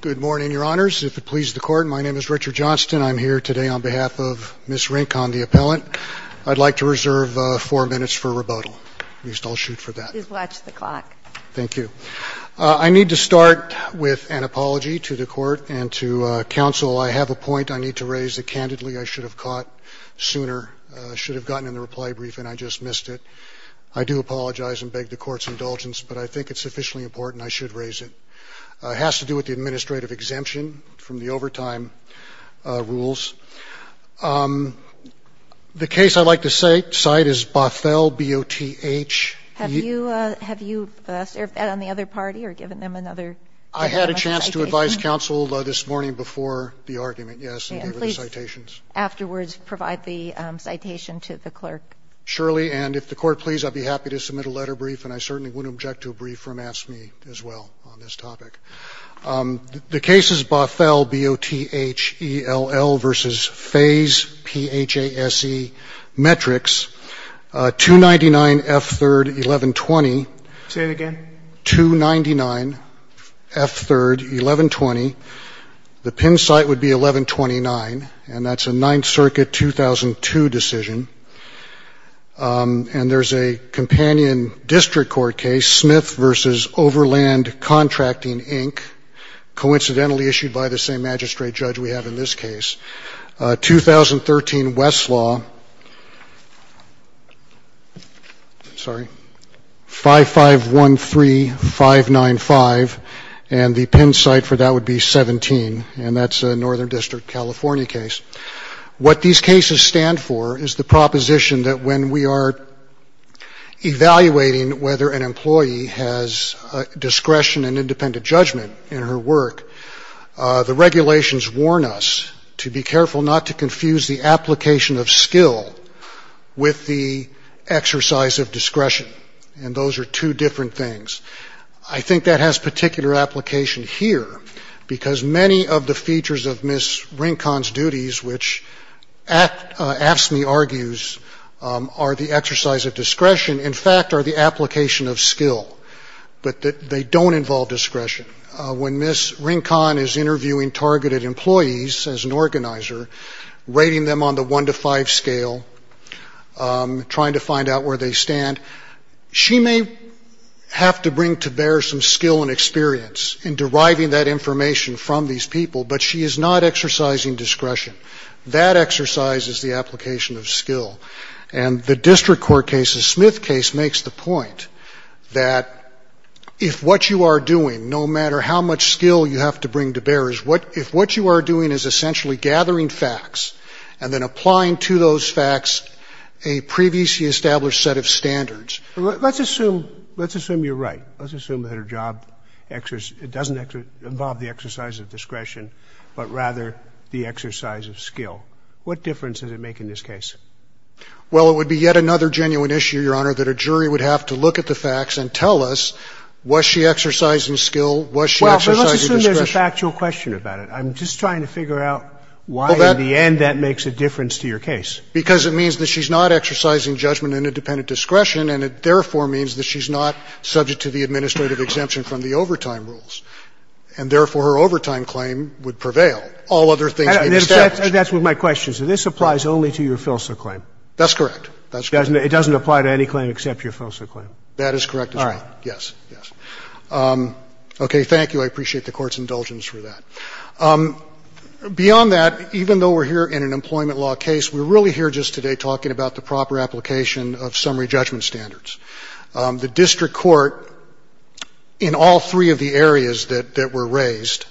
Good morning, Your Honors. If it pleases the Court, my name is Richard Johnston. I'm here today on behalf of Ms. Rincon, the appellant. I'd like to reserve four minutes for rebuttal. At least I'll shoot for that. Please watch the clock. Thank you. I need to start with an apology to the Court and to counsel. I have a point I need to raise that, candidly, I should have caught sooner. I should have gotten in the reply brief, and I just missed it. I do apologize and beg the Court's indulgence, but I think it's sufficiently important I should raise it. It has to do with the administrative exemption from the overtime rules. The case I'd like to cite is Bothell, B-O-T-H. Have you served on the other party or given them another? I had a chance to advise counsel this morning before the argument, yes, and gave her the citations. Please, afterwards, provide the citation to the clerk. Surely, and if the Court please, I'd be happy to submit a letter brief, and I certainly wouldn't object to a brief from AFSCME as well on this topic. The case is Bothell, B-O-T-H-E-L-L v. Fays, P-H-A-S-E, Metrics, 299F3-1120. Say it again. 299F3-1120. The pin site would be 1129, and that's a Ninth Circuit 2002 decision. And there's a companion district court case, Smith v. Overland Contracting, Inc., coincidentally issued by the same magistrate judge we have in this case. 2013 Westlaw, sorry, 5513-595, and the pin site for that would be 17, and that's a Northern District, California case. What these cases stand for is the proposition that when we are evaluating whether an employee has discretion and independent judgment in her work, the regulations warn us to be careful not to confuse the application of skill with the exercise of discretion. And those are two different things. I think that has particular application here, because many of the features of Ms. Rincon's duties, which AFSCME argues are the exercise of discretion, in fact are the application of skill, but they don't involve discretion. When Ms. Rincon is interviewing targeted employees as an organizer, rating them on the one-to-five scale, trying to find out where they stand, she may have to bring to bear some skill and experience in deriving that information from these people, but she is not exercising discretion. That exercise is the application of skill. And the district court case, the Smith case, makes the point that if what you are doing, no matter how much skill you have to bring to bear, if what you are doing is essentially gathering facts and then applying to those facts a previously established set of standards. Roberts. Let's assume you're right. Let's assume that her job doesn't involve the exercise of discretion, but rather the exercise of skill. What difference does it make in this case? Well, it would be yet another genuine issue, Your Honor, that a jury would have to look at the facts and tell us, was she exercising skill, was she exercising discretion? Well, but let's assume there's a factual question about it. I'm just trying to figure out why in the end that makes a difference to your case. Because it means that she's not exercising judgment and independent discretion, and it therefore means that she's not subject to the administrative exemption from the overtime rules, and therefore her overtime claim would prevail. All other things would be established. That's what my question is. So this applies only to your Filsa claim? That's correct. It doesn't apply to any claim except your Filsa claim? That is correct, Your Honor. All right. Yes. Yes. Okay. Thank you. I appreciate the Court's indulgence for that. Beyond that, even though we're here in an employment law case, we're really here just today talking about the proper application of summary judgment standards. The district court, in all three of the areas that were raised,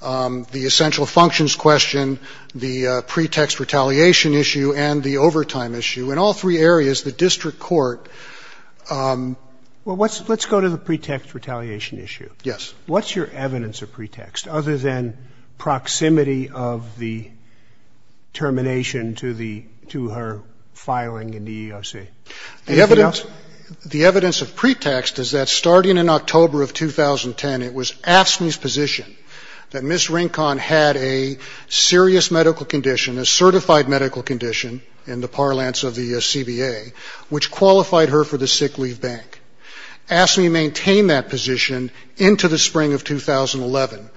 the essential functions question, the pretext retaliation issue, and the overtime issue, in all three areas, the district court ---- Well, let's go to the pretext retaliation issue. Yes. What's your evidence of pretext, other than proximity of the termination to the ---- to her filing in the EEOC? Anything else? The evidence of pretext is that starting in October of 2010, it was AFSCME's position that Ms. Rincon had a serious medical condition, a certified medical condition in the parlance of the CBA, which qualified her for the sick leave bank. AFSCME maintained that position into the spring of 2011.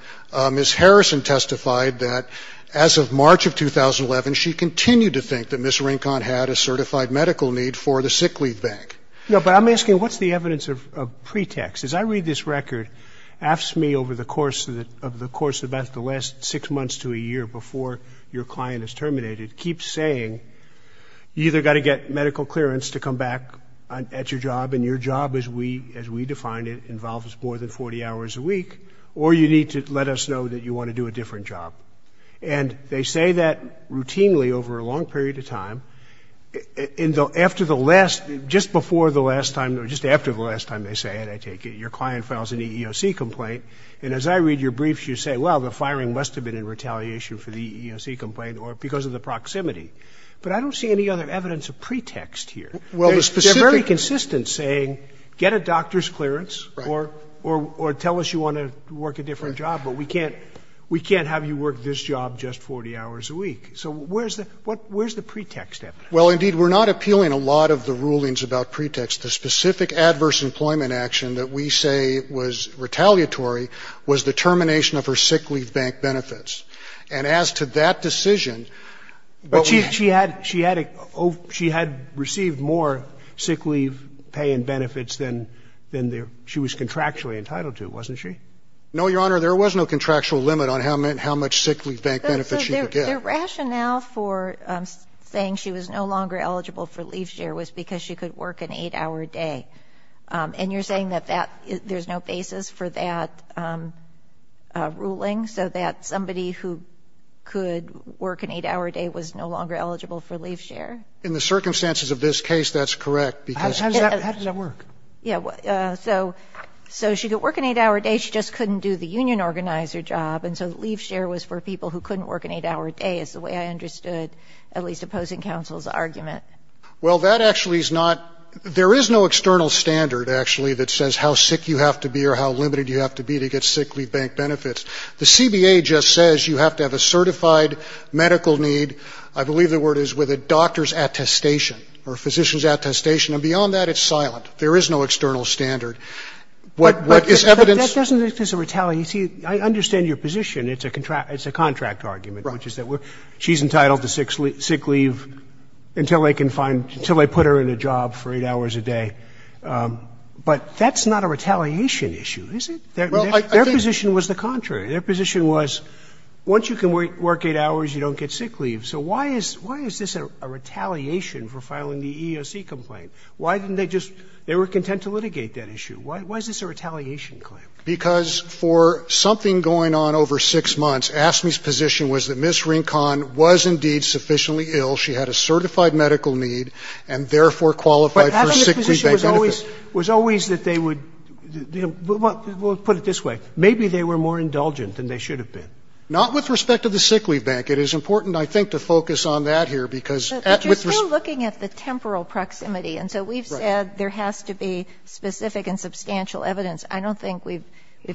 Ms. Harrison testified that as of March of 2011, she continued to think that Ms. Rincon had a certified medical need for the sick leave bank. No, but I'm asking what's the evidence of pretext? As I read this record, AFSCME, over the course of about the last six months to a year before your client is terminated, keeps saying, you either got to get medical clearance to come back at your job, and your job, as we define it, involves more than 40 hours a week, or you need to let us know that you want to do a different job. And they say that routinely over a long period of time. And after the last, just before the last time, or just after the last time they say it, I take it, your client files an EEOC complaint. And as I read your briefs, you say, well, the firing must have been in retaliation for the EEOC complaint or because of the proximity. But I don't see any other evidence of pretext here. They're very consistent, saying get a doctor's clearance or tell us you want to work a different job, but we can't have you work this job just 40 hours a week. So where's the, where's the pretext evidence? Well, indeed, we're not appealing a lot of the rulings about pretext. The specific adverse employment action that we say was retaliatory was the termination of her sick leave bank benefits. And as to that decision, what we have to say is that she had, she had, she had received more sick leave pay and benefits than, than she was contractually entitled to, wasn't she? No, Your Honor, there was no contractual limit on how much sick leave bank benefits she could get. But the rationale for saying she was no longer eligible for leave share was because she could work an 8-hour day. And you're saying that that, there's no basis for that ruling, so that somebody who could work an 8-hour day was no longer eligible for leave share? In the circumstances of this case, that's correct, because... How does that, how does that work? Yeah, so, so she could work an 8-hour day. She just couldn't do the union organizer job. And so leave share was for people who couldn't work an 8-hour day is the way I understood at least opposing counsel's argument. Well, that actually is not, there is no external standard, actually, that says how sick you have to be or how limited you have to be to get sick leave bank benefits. The CBA just says you have to have a certified medical need. I believe the word is with a doctor's attestation or a physician's attestation. And beyond that, it's silent. There is no external standard. What, what is evidence... I understand your position. It's a contract, it's a contract argument. Right. Which is that she's entitled to sick leave until they can find, until they put her in a job for 8 hours a day. But that's not a retaliation issue, is it? Well, I think... Their position was the contrary. Their position was once you can work 8 hours, you don't get sick leave. So why is, why is this a retaliation for filing the EEOC complaint? Why didn't they just, they were content to litigate that issue. Why, why is this a retaliation claim? Because for something going on over 6 months, AFSCME's position was that Ms. Rincon was indeed sufficiently ill, she had a certified medical need, and therefore qualified for sick leave bank benefits. But AFSCME's position was always, was always that they would, we'll put it this way, maybe they were more indulgent than they should have been. Not with respect to the sick leave bank. It is important, I think, to focus on that here because... But you're still looking at the temporal proximity. Right. And so we've said there has to be specific and substantial evidence. I don't think we've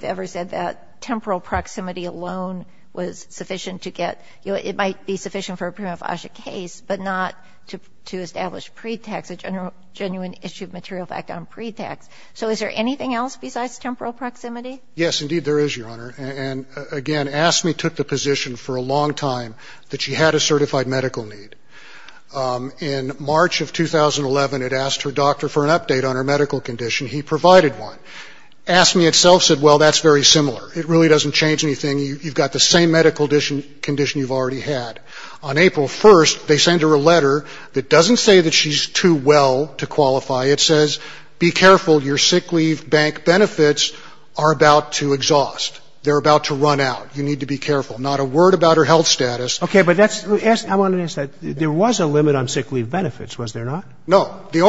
ever said that temporal proximity alone was sufficient to get, it might be sufficient for a prima facie case, but not to establish pretext, a genuine issue of material fact on pretext. So is there anything else besides temporal proximity? Yes, indeed there is, Your Honor. And again, AFSCME took the position for a long time that she had a certified medical need. In March of 2011, it asked her doctor for an update on her medical condition. He provided one. AFSCME itself said, well, that's very similar. It really doesn't change anything. You've got the same medical condition you've already had. On April 1st, they send her a letter that doesn't say that she's too well to qualify. It says, be careful, your sick leave bank benefits are about to exhaust. They're about to run out. You need to be careful. Not a word about her health status. Okay. But that's, I wanted to ask, there was a limit on sick leave benefits, was there not? No. There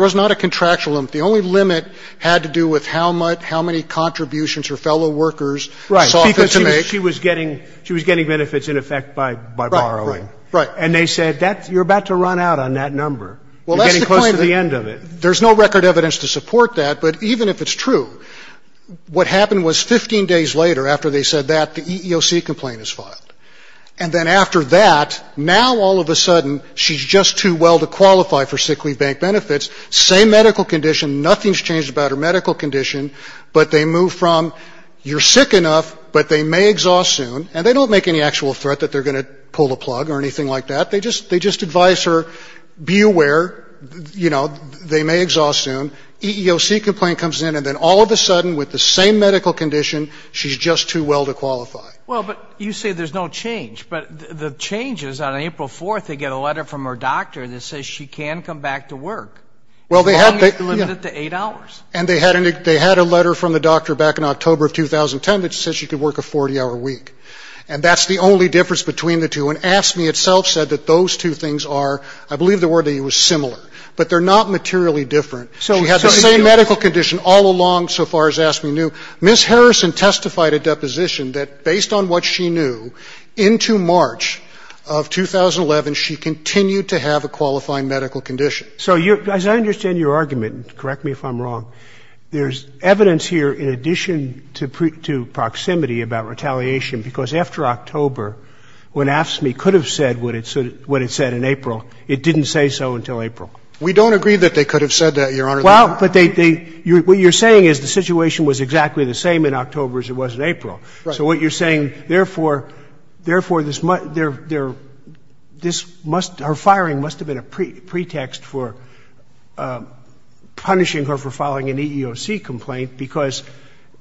was not a contractual limit. The only limit had to do with how much, how many contributions her fellow workers saw fit to make. Right. Because she was getting benefits in effect by borrowing. Right. And they said, you're about to run out on that number. Well, that's the point. You're getting close to the end of it. There's no record evidence to support that, but even if it's true, what happened was 15 days later after they said that, the EEOC complaint is filed. And then after that, now all of a sudden, she's just too well to qualify for sick leave bank benefits. Same medical condition. Nothing's changed about her medical condition. But they move from, you're sick enough, but they may exhaust soon. And they don't make any actual threat that they're going to pull the plug or anything like that. They just advise her, be aware, you know, they may exhaust soon. EEOC complaint comes in, and then all of a sudden, with the same medical condition, she's just too well to qualify. Well, but you say there's no change. But the change is, on April 4th, they get a letter from her doctor that says she can come back to work, as long as you limit it to 8 hours. And they had a letter from the doctor back in October of 2010 that said she could work a 40-hour week. And that's the only difference between the two. And AFSCME itself said that those two things are, I believe the word was similar, but they're not materially different. She had the same medical condition all along, so far as AFSCME knew. Ms. Harrison testified at deposition that, based on what she knew, into March of 2010. So, as I understand your argument, and correct me if I'm wrong, there's evidence here, in addition to proximity, about retaliation. Because after October, when AFSCME could have said what it said in April, it didn't say so until April. We don't agree that they could have said that, Your Honor. Well, but they – what you're saying is the situation was exactly the same in October as it was in April. Right. So what you're saying, therefore, therefore, this must – her firing must have been a pretext for punishing her for filing an EEOC complaint, because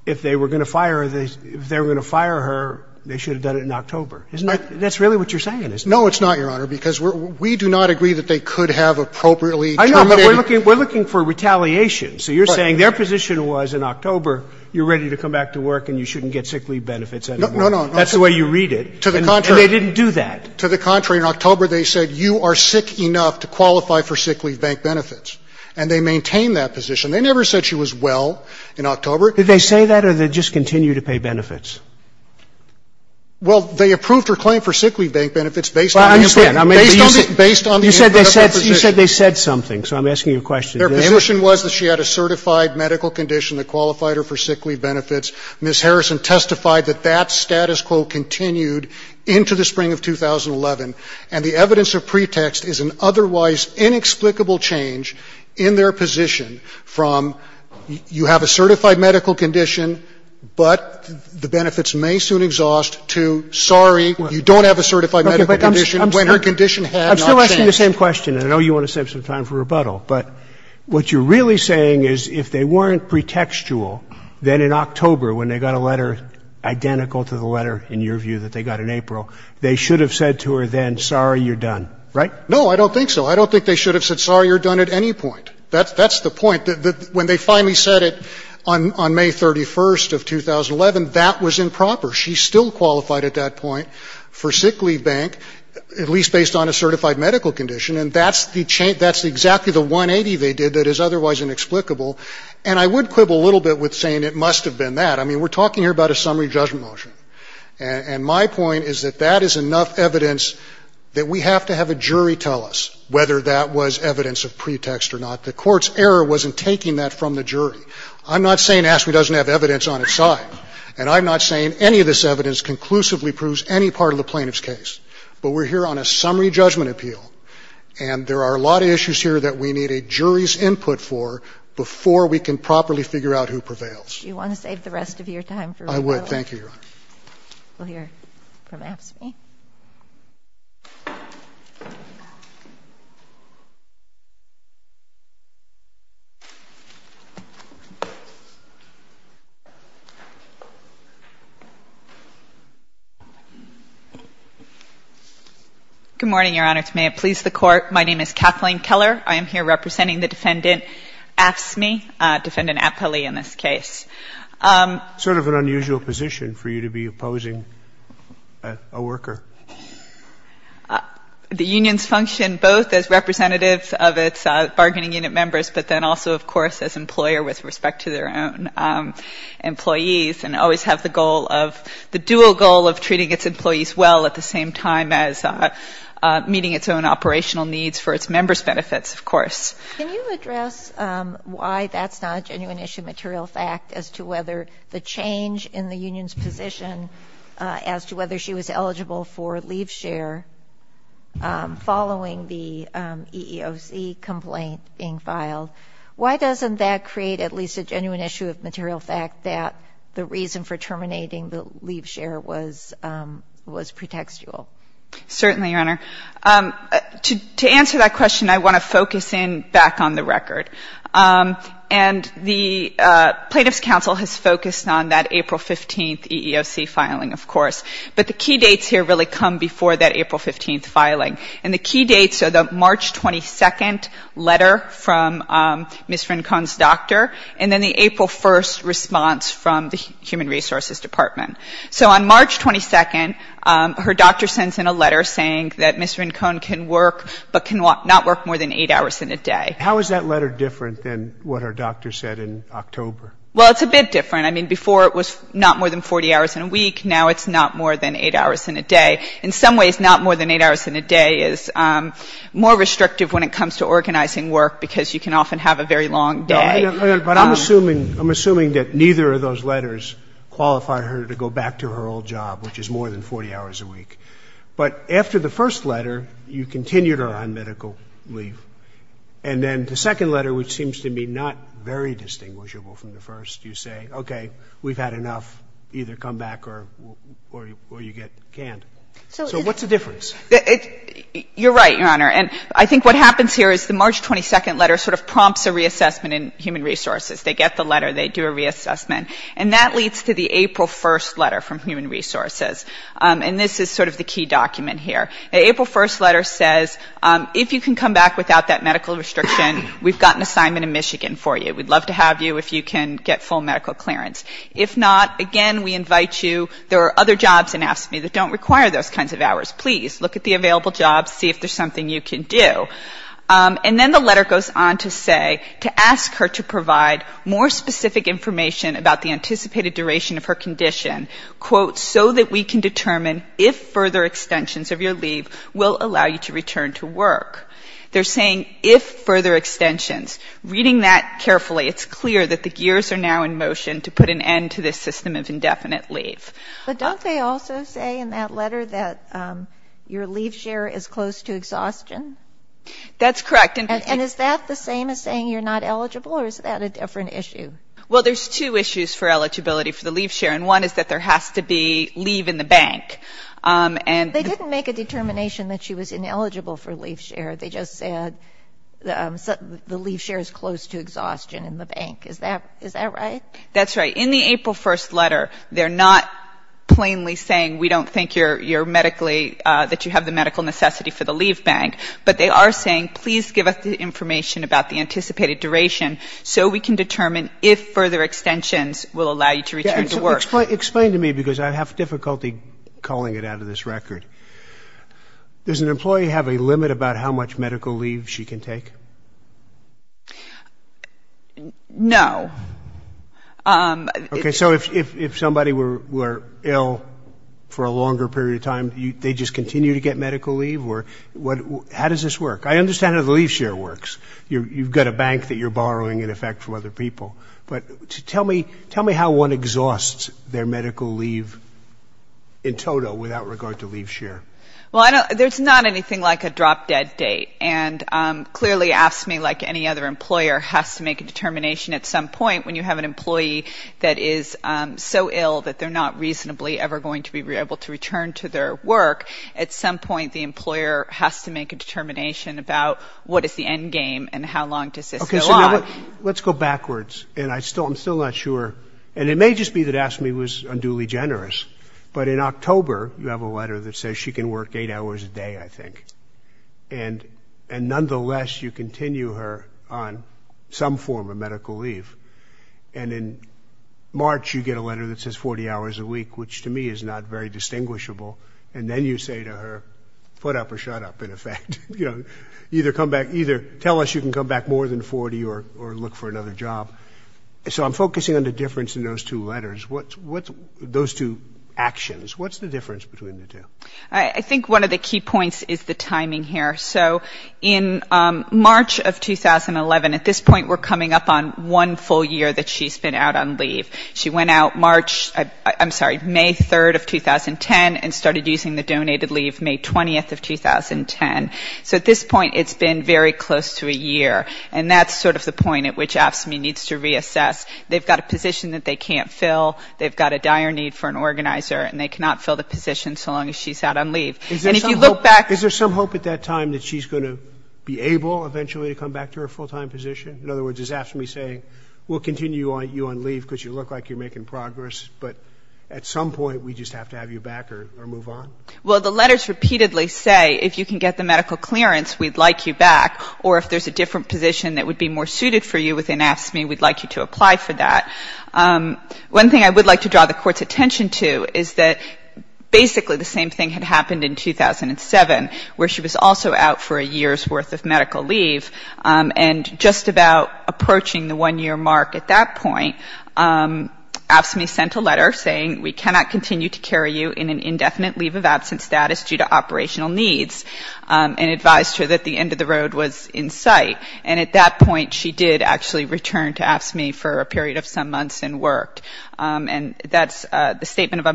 if they were going to fire her, if they were going to fire her, they should have done it in October. Isn't that – that's really what you're saying, isn't it? No, it's not, Your Honor, because we do not agree that they could have appropriately terminated her. I know, but we're looking for retaliation. Right. So you're saying their position was, in October, you're ready to come back to work and you shouldn't get sick leave benefits anymore. No, no, no. That's the way you read it. To the contrary. And they didn't do that. To the contrary. In October, they said, you are sick enough to qualify for sick leave bank benefits, and they maintained that position. They never said she was well in October. Did they say that, or did they just continue to pay benefits? Well, they approved her claim for sick leave bank benefits based on the – Well, I understand. Based on the – based on the – You said they said – you said they said something, so I'm asking you a question. Their position was that she had a certified medical condition that qualified her for sick leave benefits. Ms. Harrison testified that that status quo continued into the spring of 2011, and the evidence of pretext is an otherwise inexplicable change in their position from you have a certified medical condition, but the benefits may soon exhaust, to sorry, you don't have a certified medical condition when her condition has not changed. I'm still asking the same question, and I know you want to save some time for rebuttal, but what you're really saying is if they weren't pretextual, then in October, when they got a letter identical to the letter, in your view, that they got in April, they should have said to her then, sorry, you're done, right? No, I don't think so. I don't think they should have said sorry, you're done at any point. That's the point. When they finally said it on May 31st of 2011, that was improper. She still qualified at that point for sick leave bank, at least based on a certified medical condition, and that's the – that's exactly the 180 they did that is otherwise inexplicable. And I would quibble a little bit with saying it must have been that. I mean, we're talking here about a summary judgment motion, and my point is that that is enough evidence that we have to have a jury tell us whether that was evidence of pretext or not. The Court's error was in taking that from the jury. I'm not saying ASTME doesn't have evidence on its side, and I'm not saying any of this evidence conclusively proves any part of the plaintiff's case, but we're here on a summary judgment appeal, and there are a lot of issues here that we need a jury's opinion on before we can properly figure out who prevails. Do you want to save the rest of your time for real life? I would. Thank you, Your Honor. We'll hear from ASTME. Good morning, Your Honor. To may it please the Court, my name is Kathleen Keller. I am here representing the Defendant AFSCME, Defendant Apele in this case. Sort of an unusual position for you to be opposing a worker. The unions function both as representatives of its bargaining unit members, but then also, of course, as employer with respect to their own employees, and always have the goal of the dual goal of treating its employees well at the Can you address why that's not a genuine issue, material fact, as to whether the change in the union's position as to whether she was eligible for leave share following the EEOC complaint being filed, why doesn't that create at least a genuine issue of material fact that the reason for terminating the leave share was pretextual? Certainly, Your Honor. To answer that question, I want to focus in back on the record. And the Plaintiffs' Council has focused on that April 15th EEOC filing, of course. But the key dates here really come before that April 15th filing. And the key dates are the March 22nd letter from Ms. Fincon's doctor, and then the April 1st response from the Human Resources Department. So on March 22nd, her doctor sends in a letter saying that Ms. Fincon can work but cannot work more than eight hours in a day. How is that letter different than what her doctor said in October? Well, it's a bit different. I mean, before it was not more than 40 hours in a week. Now it's not more than eight hours in a day. In some ways, not more than eight hours in a day is more restrictive when it comes to organizing work because you can often have a very long day. But I'm assuming that neither of those letters qualify her to go back to her old job, which is more than 40 hours a week. But after the first letter, you continue to run medical leave. And then the second letter, which seems to me not very distinguishable from the first, you say, okay, we've had enough, either come back or you get canned. You're right, Your Honor. And I think what happens here is the March 22nd letter sort of prompts a reassessment in Human Resources. They get the letter. They do a reassessment. And that leads to the April 1st letter from Human Resources. And this is sort of the key document here. The April 1st letter says, if you can come back without that medical restriction, we've got an assignment in Michigan for you. We'd love to have you if you can get full medical clearance. If not, again, we invite you. There are other jobs in AFSCME that don't require those kinds of hours. Please look at the available jobs. See if there's something you can do. And then the letter goes on to say to ask her to provide more specific information about the anticipated duration of her condition, quote, so that we can determine if further extensions of your leave will allow you to return to work. They're saying if further extensions. Reading that carefully, it's clear that the gears are now in motion to put an end to this system of indefinite leave. But don't they also say in that letter that your leave share is close to exhaustion? That's correct. And is that the same as saying you're not eligible, or is that a different issue? Well, there's two issues for eligibility for the leave share. And one is that there has to be leave in the bank. They didn't make a determination that she was ineligible for leave share. They just said the leave share is close to exhaustion in the bank. Is that right? That's right. But in the April 1st letter, they're not plainly saying we don't think you're medically, that you have the medical necessity for the leave bank, but they are saying please give us the information about the anticipated duration so we can determine if further extensions will allow you to return to work. Explain to me, because I have difficulty calling it out of this record. Does an employee have a limit about how much medical leave she can take? No. Okay. So if somebody were ill for a longer period of time, they just continue to get medical leave? How does this work? I understand how the leave share works. You've got a bank that you're borrowing, in effect, from other people. But tell me how one exhausts their medical leave in total without regard to leave share. Well, there's not anything like a drop-dead date. And clearly AFSCME, like any other employer, has to make a determination at some point when you have an employee that is so ill that they're not reasonably ever going to be able to return to their work. At some point, the employer has to make a determination about what is the end game and how long does this go on. Okay. So let's go backwards. And I'm still not sure. And it may just be that AFSCME was unduly generous. But in October, you have a letter that says she can work eight hours a day, I think. And nonetheless, you continue her on some form of medical leave. And in March, you get a letter that says 40 hours a week, which to me is not very distinguishable. And then you say to her, put up or shut up, in effect. You know, either tell us you can come back more than 40 or look for another job. So I'm focusing on the difference in those two letters, those two actions. What's the difference between the two? I think one of the key points is the timing here. So in March of 2011, at this point, we're coming up on one full year that she's been out on leave. She went out March, I'm sorry, May 3rd of 2010 and started using the donated leave May 20th of 2010. So at this point, it's been very close to a year. And that's sort of the point at which AFSCME needs to reassess. They've got a position that they can't fill. They've got a dire need for an organizer. And they cannot fill the position so long as she's out on leave. And if you look back. Is there some hope at that time that she's going to be able eventually to come back to her full-time position? In other words, is AFSCME saying, we'll continue you on leave because you look like you're making progress. But at some point, we just have to have you back or move on? Well, the letters repeatedly say, if you can get the medical clearance, we'd like you back. Or if there's a different position that would be more suited for you within AFSCME, we'd like you to apply for that. One thing I would like to draw the Court's attention to is that basically the same thing had happened in 2007, where she was also out for a year's worth of medical leave. And just about approaching the one-year mark at that point, AFSCME sent a letter saying, we cannot continue to carry you in an indefinite leave of absence status due to operational needs. And advised her that the end of the road was in sight. And at that point, she did actually return to AFSCME for a period of some months and worked. And that's the Statement of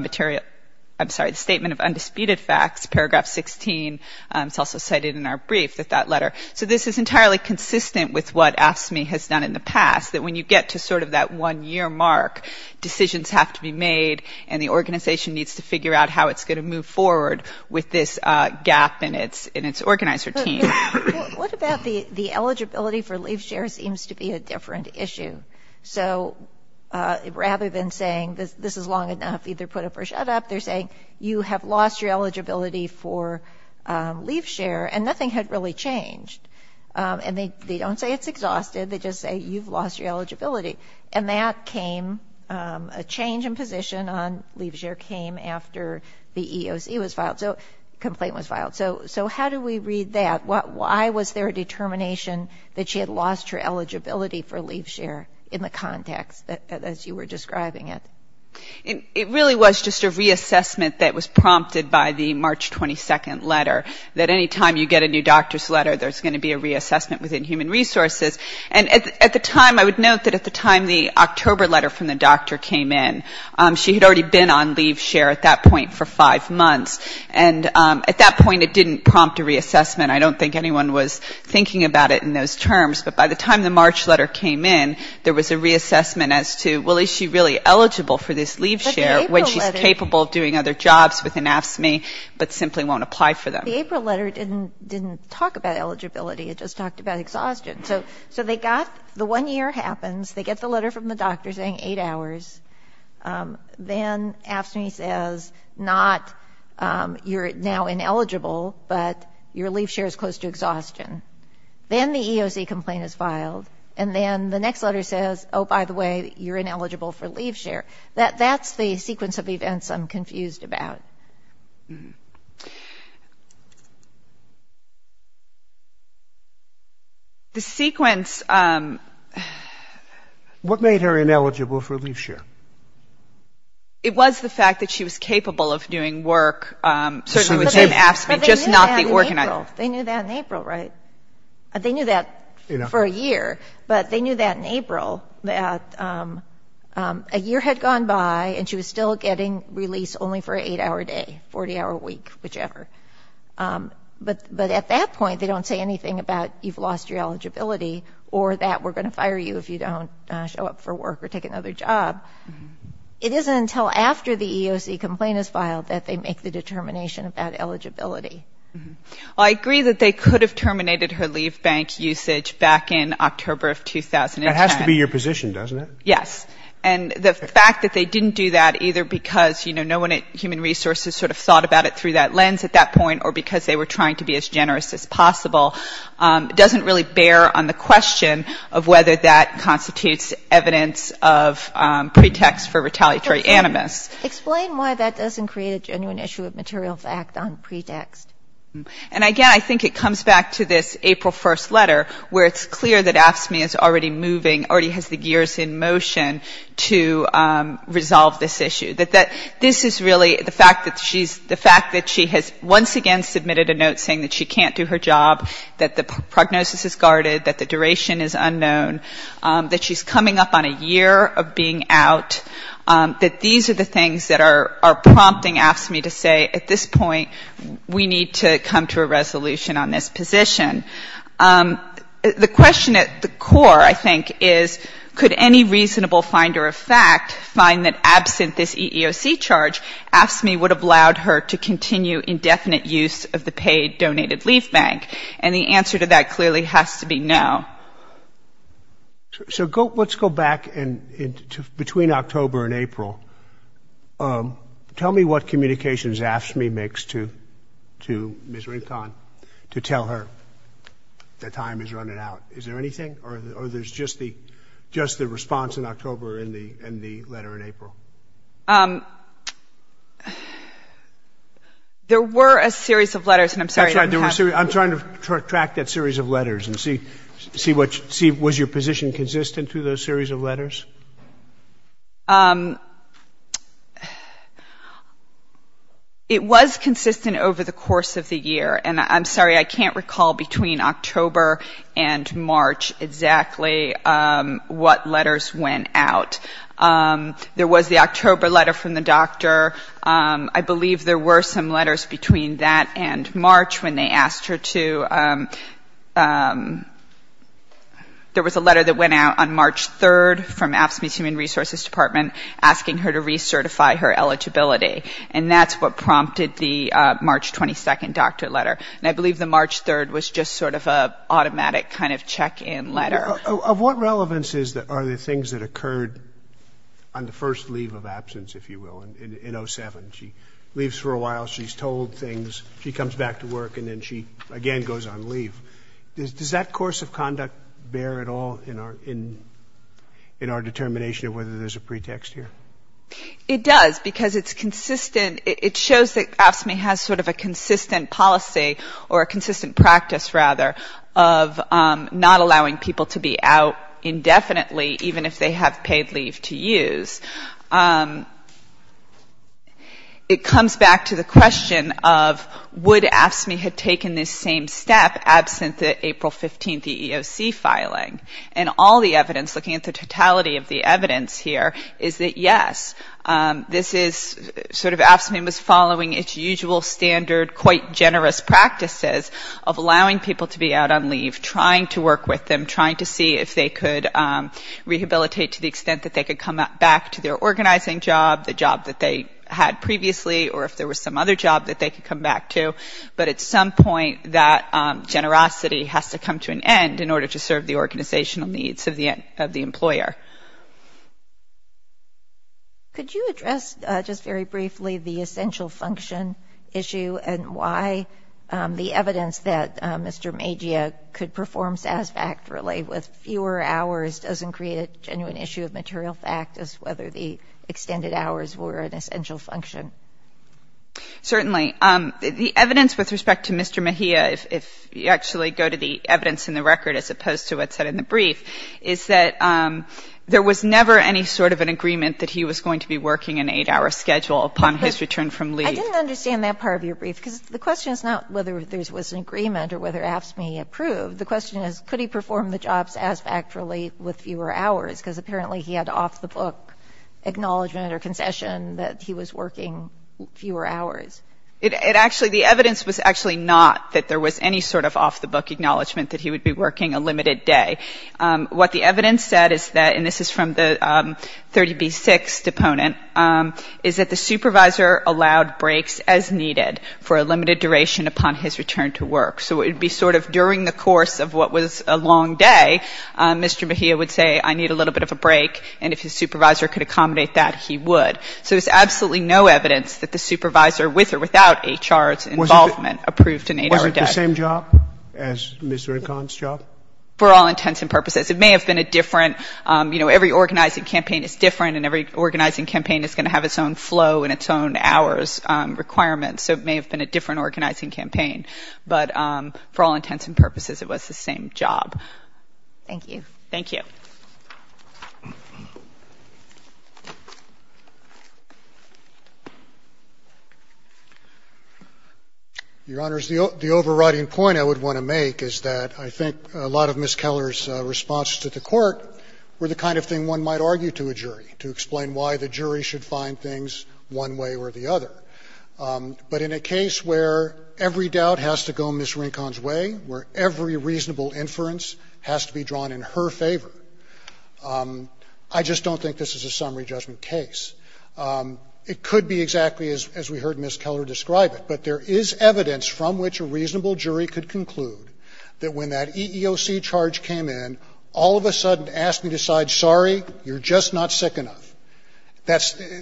Undisputed Facts, paragraph 16. It's also cited in our brief that that letter. So this is entirely consistent with what AFSCME has done in the past, that when you get to sort of that one-year mark, decisions have to be made, and the organization needs to figure out how it's going to move forward with this gap in its organizer team. What about the eligibility for leave share seems to be a different issue? So rather than saying this is long enough, either put up or shut up, they're saying you have lost your eligibility for leave share, and nothing had really changed. And they don't say it's exhausted. They just say you've lost your eligibility. And that came, a change in position on leave share came after the EEOC was filed, so complaint was filed. So how do we read that? Why was there a determination that she had lost her eligibility for leave share in the context, as you were describing it? It really was just a reassessment that was prompted by the March 22nd letter, that any time you get a new doctor's letter, there's going to be a reassessment within human resources. And at the time, I would note that at the time the October letter from the doctor came in, she had already been on leave share at that point for five months. And at that point, it didn't prompt a reassessment. I don't think anyone was thinking about it in those terms. But by the time the March letter came in, there was a reassessment as to, well, is she really eligible for this leave share when she's capable of doing other jobs within AFSCME, but simply won't apply for them? The April letter didn't talk about eligibility. It just talked about exhaustion. So they got the one year happens. They get the letter from the doctor saying eight hours. Then AFSCME says, not you're now ineligible, but your leave share is close to exhaustion. Then the EOC complaint is filed. And then the next letter says, oh, by the way, you're ineligible for leave share. That's the sequence of events I'm confused about. The sequence. What made her ineligible for leave share? It was the fact that she was capable of doing work, certainly within AFSCME, just not the organized. They knew that in April, right? They knew that for a year. But they knew that in April, that a year had gone by, and she was still getting release only for an eight-hour day, 40-hour week, whichever. But at that point, they don't say anything about you've lost your eligibility or that we're going to fire you if you don't show up for work or take another job. It isn't until after the EOC complaint is filed that they make the determination about eligibility. I agree that they could have terminated her leave bank usage back in October of 2010. That has to be your position, doesn't it? Yes. And the fact that they didn't do that either because, you know, human resources sort of thought about it through that lens at that point or because they were trying to be as generous as possible doesn't really bear on the question of whether that constitutes evidence of pretext for retaliatory animus. Explain why that doesn't create a genuine issue of material fact on pretext. And, again, I think it comes back to this April 1st letter, where it's clear that AFSCME is already moving, already has the gears in motion to resolve this issue. That this is really the fact that she's the fact that she has once again submitted a note saying that she can't do her job, that the prognosis is guarded, that the duration is unknown, that she's coming up on a year of being out, that these are the things that are prompting AFSCME to say at this point we need to come to a resolution on this position. The question at the core, I think, is could any reasonable finder of fact find that absent this EEOC charge, AFSCME would have allowed her to continue indefinite use of the paid donated leave bank? And the answer to that clearly has to be no. So let's go back between October and April. Tell me what communications AFSCME makes to Ms. Rincon to tell her the time is running out. Is there anything, or there's just the response in October and the letter in April? There were a series of letters, and I'm sorry. That's right. I'm trying to track that series of letters and see was your position consistent to those series of letters? It was consistent over the course of the year. And I'm sorry, I can't recall between October and March exactly what letters went out. There was the October letter from the doctor. I believe there were some letters between that and March when they asked her to. There was a letter that went out on March 3rd from AFSCME's Human Resources Department asking her to recertify her eligibility. And that's what prompted the March 22nd doctor letter. And I believe the March 3rd was just sort of an automatic kind of check-in letter. Of what relevance are the things that occurred on the first leave of absence, if you will, in 07? She leaves for a while, she's told things, she comes back to work, and then she again goes on leave. Does that course of conduct bear at all in our determination of whether there's a pretext here? It does, because it's consistent, it shows that AFSCME has sort of a consistent policy or a consistent practice, rather, of not allowing people to be out indefinitely, even if they have paid leave to use. It comes back to the question of would AFSCME have taken this same step absent the April 15th EEOC filing. And all the evidence, looking at the totality of the evidence here, is that yes, this is sort of AFSCME was following its usual standard, quite generous practices of allowing people to be out on leave, trying to work with them, trying to see if they could rehabilitate to the extent that they could come back to their organizing job, the job that they had previously, or if there was some other job that they could come back to. But at some point, that generosity has to come to an end in order to serve the organizational needs of the employer. Could you address just very briefly the essential function issue and why the evidence that Mr. Maggia could perform satisfactorily with fewer hours doesn't create a genuine issue of material fact as whether the extended hours were an essential function? Certainly. The evidence with respect to Mr. Maggia, if you actually go to the evidence in the record as opposed to what's said in the brief, is that there was never any sort of an agreement that he was going to be working an 8-hour schedule upon his return from leave. I didn't understand that part of your brief, because the question is not whether there was an agreement or whether AFSCME approved. The question is could he perform the jobs satisfactorily with fewer hours, because apparently he had off-the-book acknowledgement or concession that he was working fewer hours. The evidence was actually not that there was any sort of off-the-book acknowledgement that he would be working a limited day. What the evidence said is that, and this is from the 30B6 deponent, is that the supervisor allowed breaks as needed for a limited duration upon his return to work. So it would be sort of during the course of what was a long day, Mr. Maggia would say, I need a little bit of a break, and if his supervisor could accommodate that, he would. So there's absolutely no evidence that the supervisor, with or without HR's involvement, approved an 8-hour day. Scalia. Wasn't it the same job as Mr. Incon's job? For all intents and purposes. It may have been a different, you know, every organizing campaign is different and every organizing campaign is going to have its own flow and its own hours requirements, so it may have been a different organizing campaign. But for all intents and purposes, it was the same job. Thank you. Thank you. Your Honor, the overriding point I would want to make is that I think a lot of Ms. Keller's responses to the Court were the kind of thing one might argue to a jury, to explain why the jury should find things one way or the other. But in a case where every doubt has to go Ms. Rincon's way, where every reasonable inference has to be drawn in her favor, I just don't think this is a summary judgment case. It could be exactly as we heard Ms. Keller describe it. But there is evidence from which a reasonable jury could conclude that when that EEOC charge came in, all of a sudden asked me to decide, sorry, you're just not sick enough.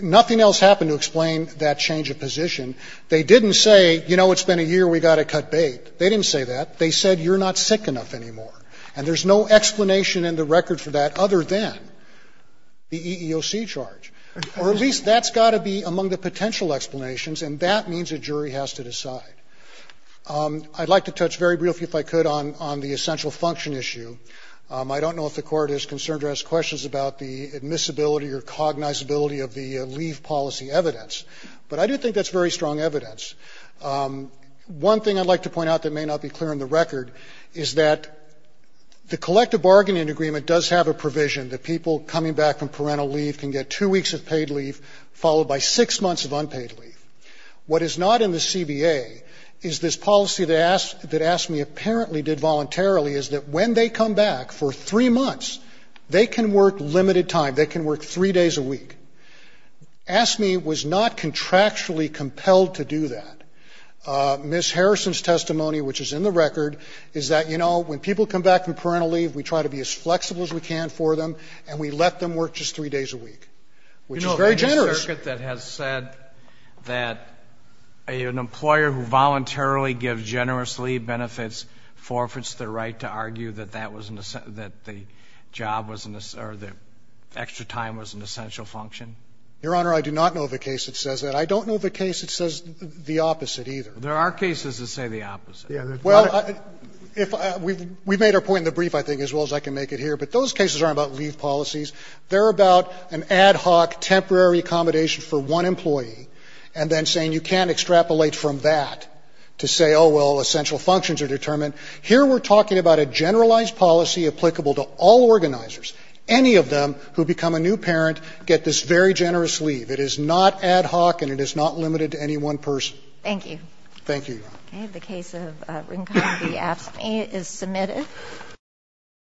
Nothing else happened to explain that change of position. They didn't say, you know, it's been a year, we've got to cut bait. They didn't say that. They said, you're not sick enough anymore. And there's no explanation in the record for that other than the EEOC charge. Or at least that's got to be among the potential explanations, and that means a jury has to decide. I'd like to touch very briefly, if I could, on the essential function issue. I don't know if the Court is concerned or has questions about the admissibility or cognizability of the leave policy evidence, but I do think that's very strong evidence. One thing I'd like to point out that may not be clear in the record is that the collective bargaining agreement does have a provision that people coming back from parental leave can get two weeks of paid leave, followed by six months of unpaid leave. What is not in the CBA is this policy that asked me apparently did voluntarily is that when they come back for three months, they can work limited time. They can work three days a week. Asked me was not contractually compelled to do that. Ms. Harrison's testimony, which is in the record, is that, you know, when people come back from parental leave, we try to be as flexible as we can for them, and we let them work just three days a week, which is very generous. You know, there's a circuit that has said that an employer who voluntarily gives generous leave benefits forfeits their right to argue that that was an essential function. Your Honor, I do not know of a case that says that. I don't know of a case that says the opposite, either. There are cases that say the opposite. Well, we've made our point in the brief, I think, as well as I can make it here. But those cases aren't about leave policies. They're about an ad hoc temporary accommodation for one employee, and then saying you can't extrapolate from that to say, oh, well, essential functions are determined. Here we're talking about a generalized policy applicable to all organizers. Any of them who become a new parent get this very generous leave. It is not ad hoc, and it is not limited to any one person. Thank you. Thank you, Your Honor. Okay. The case of Rincon v. Apsamay is submitted.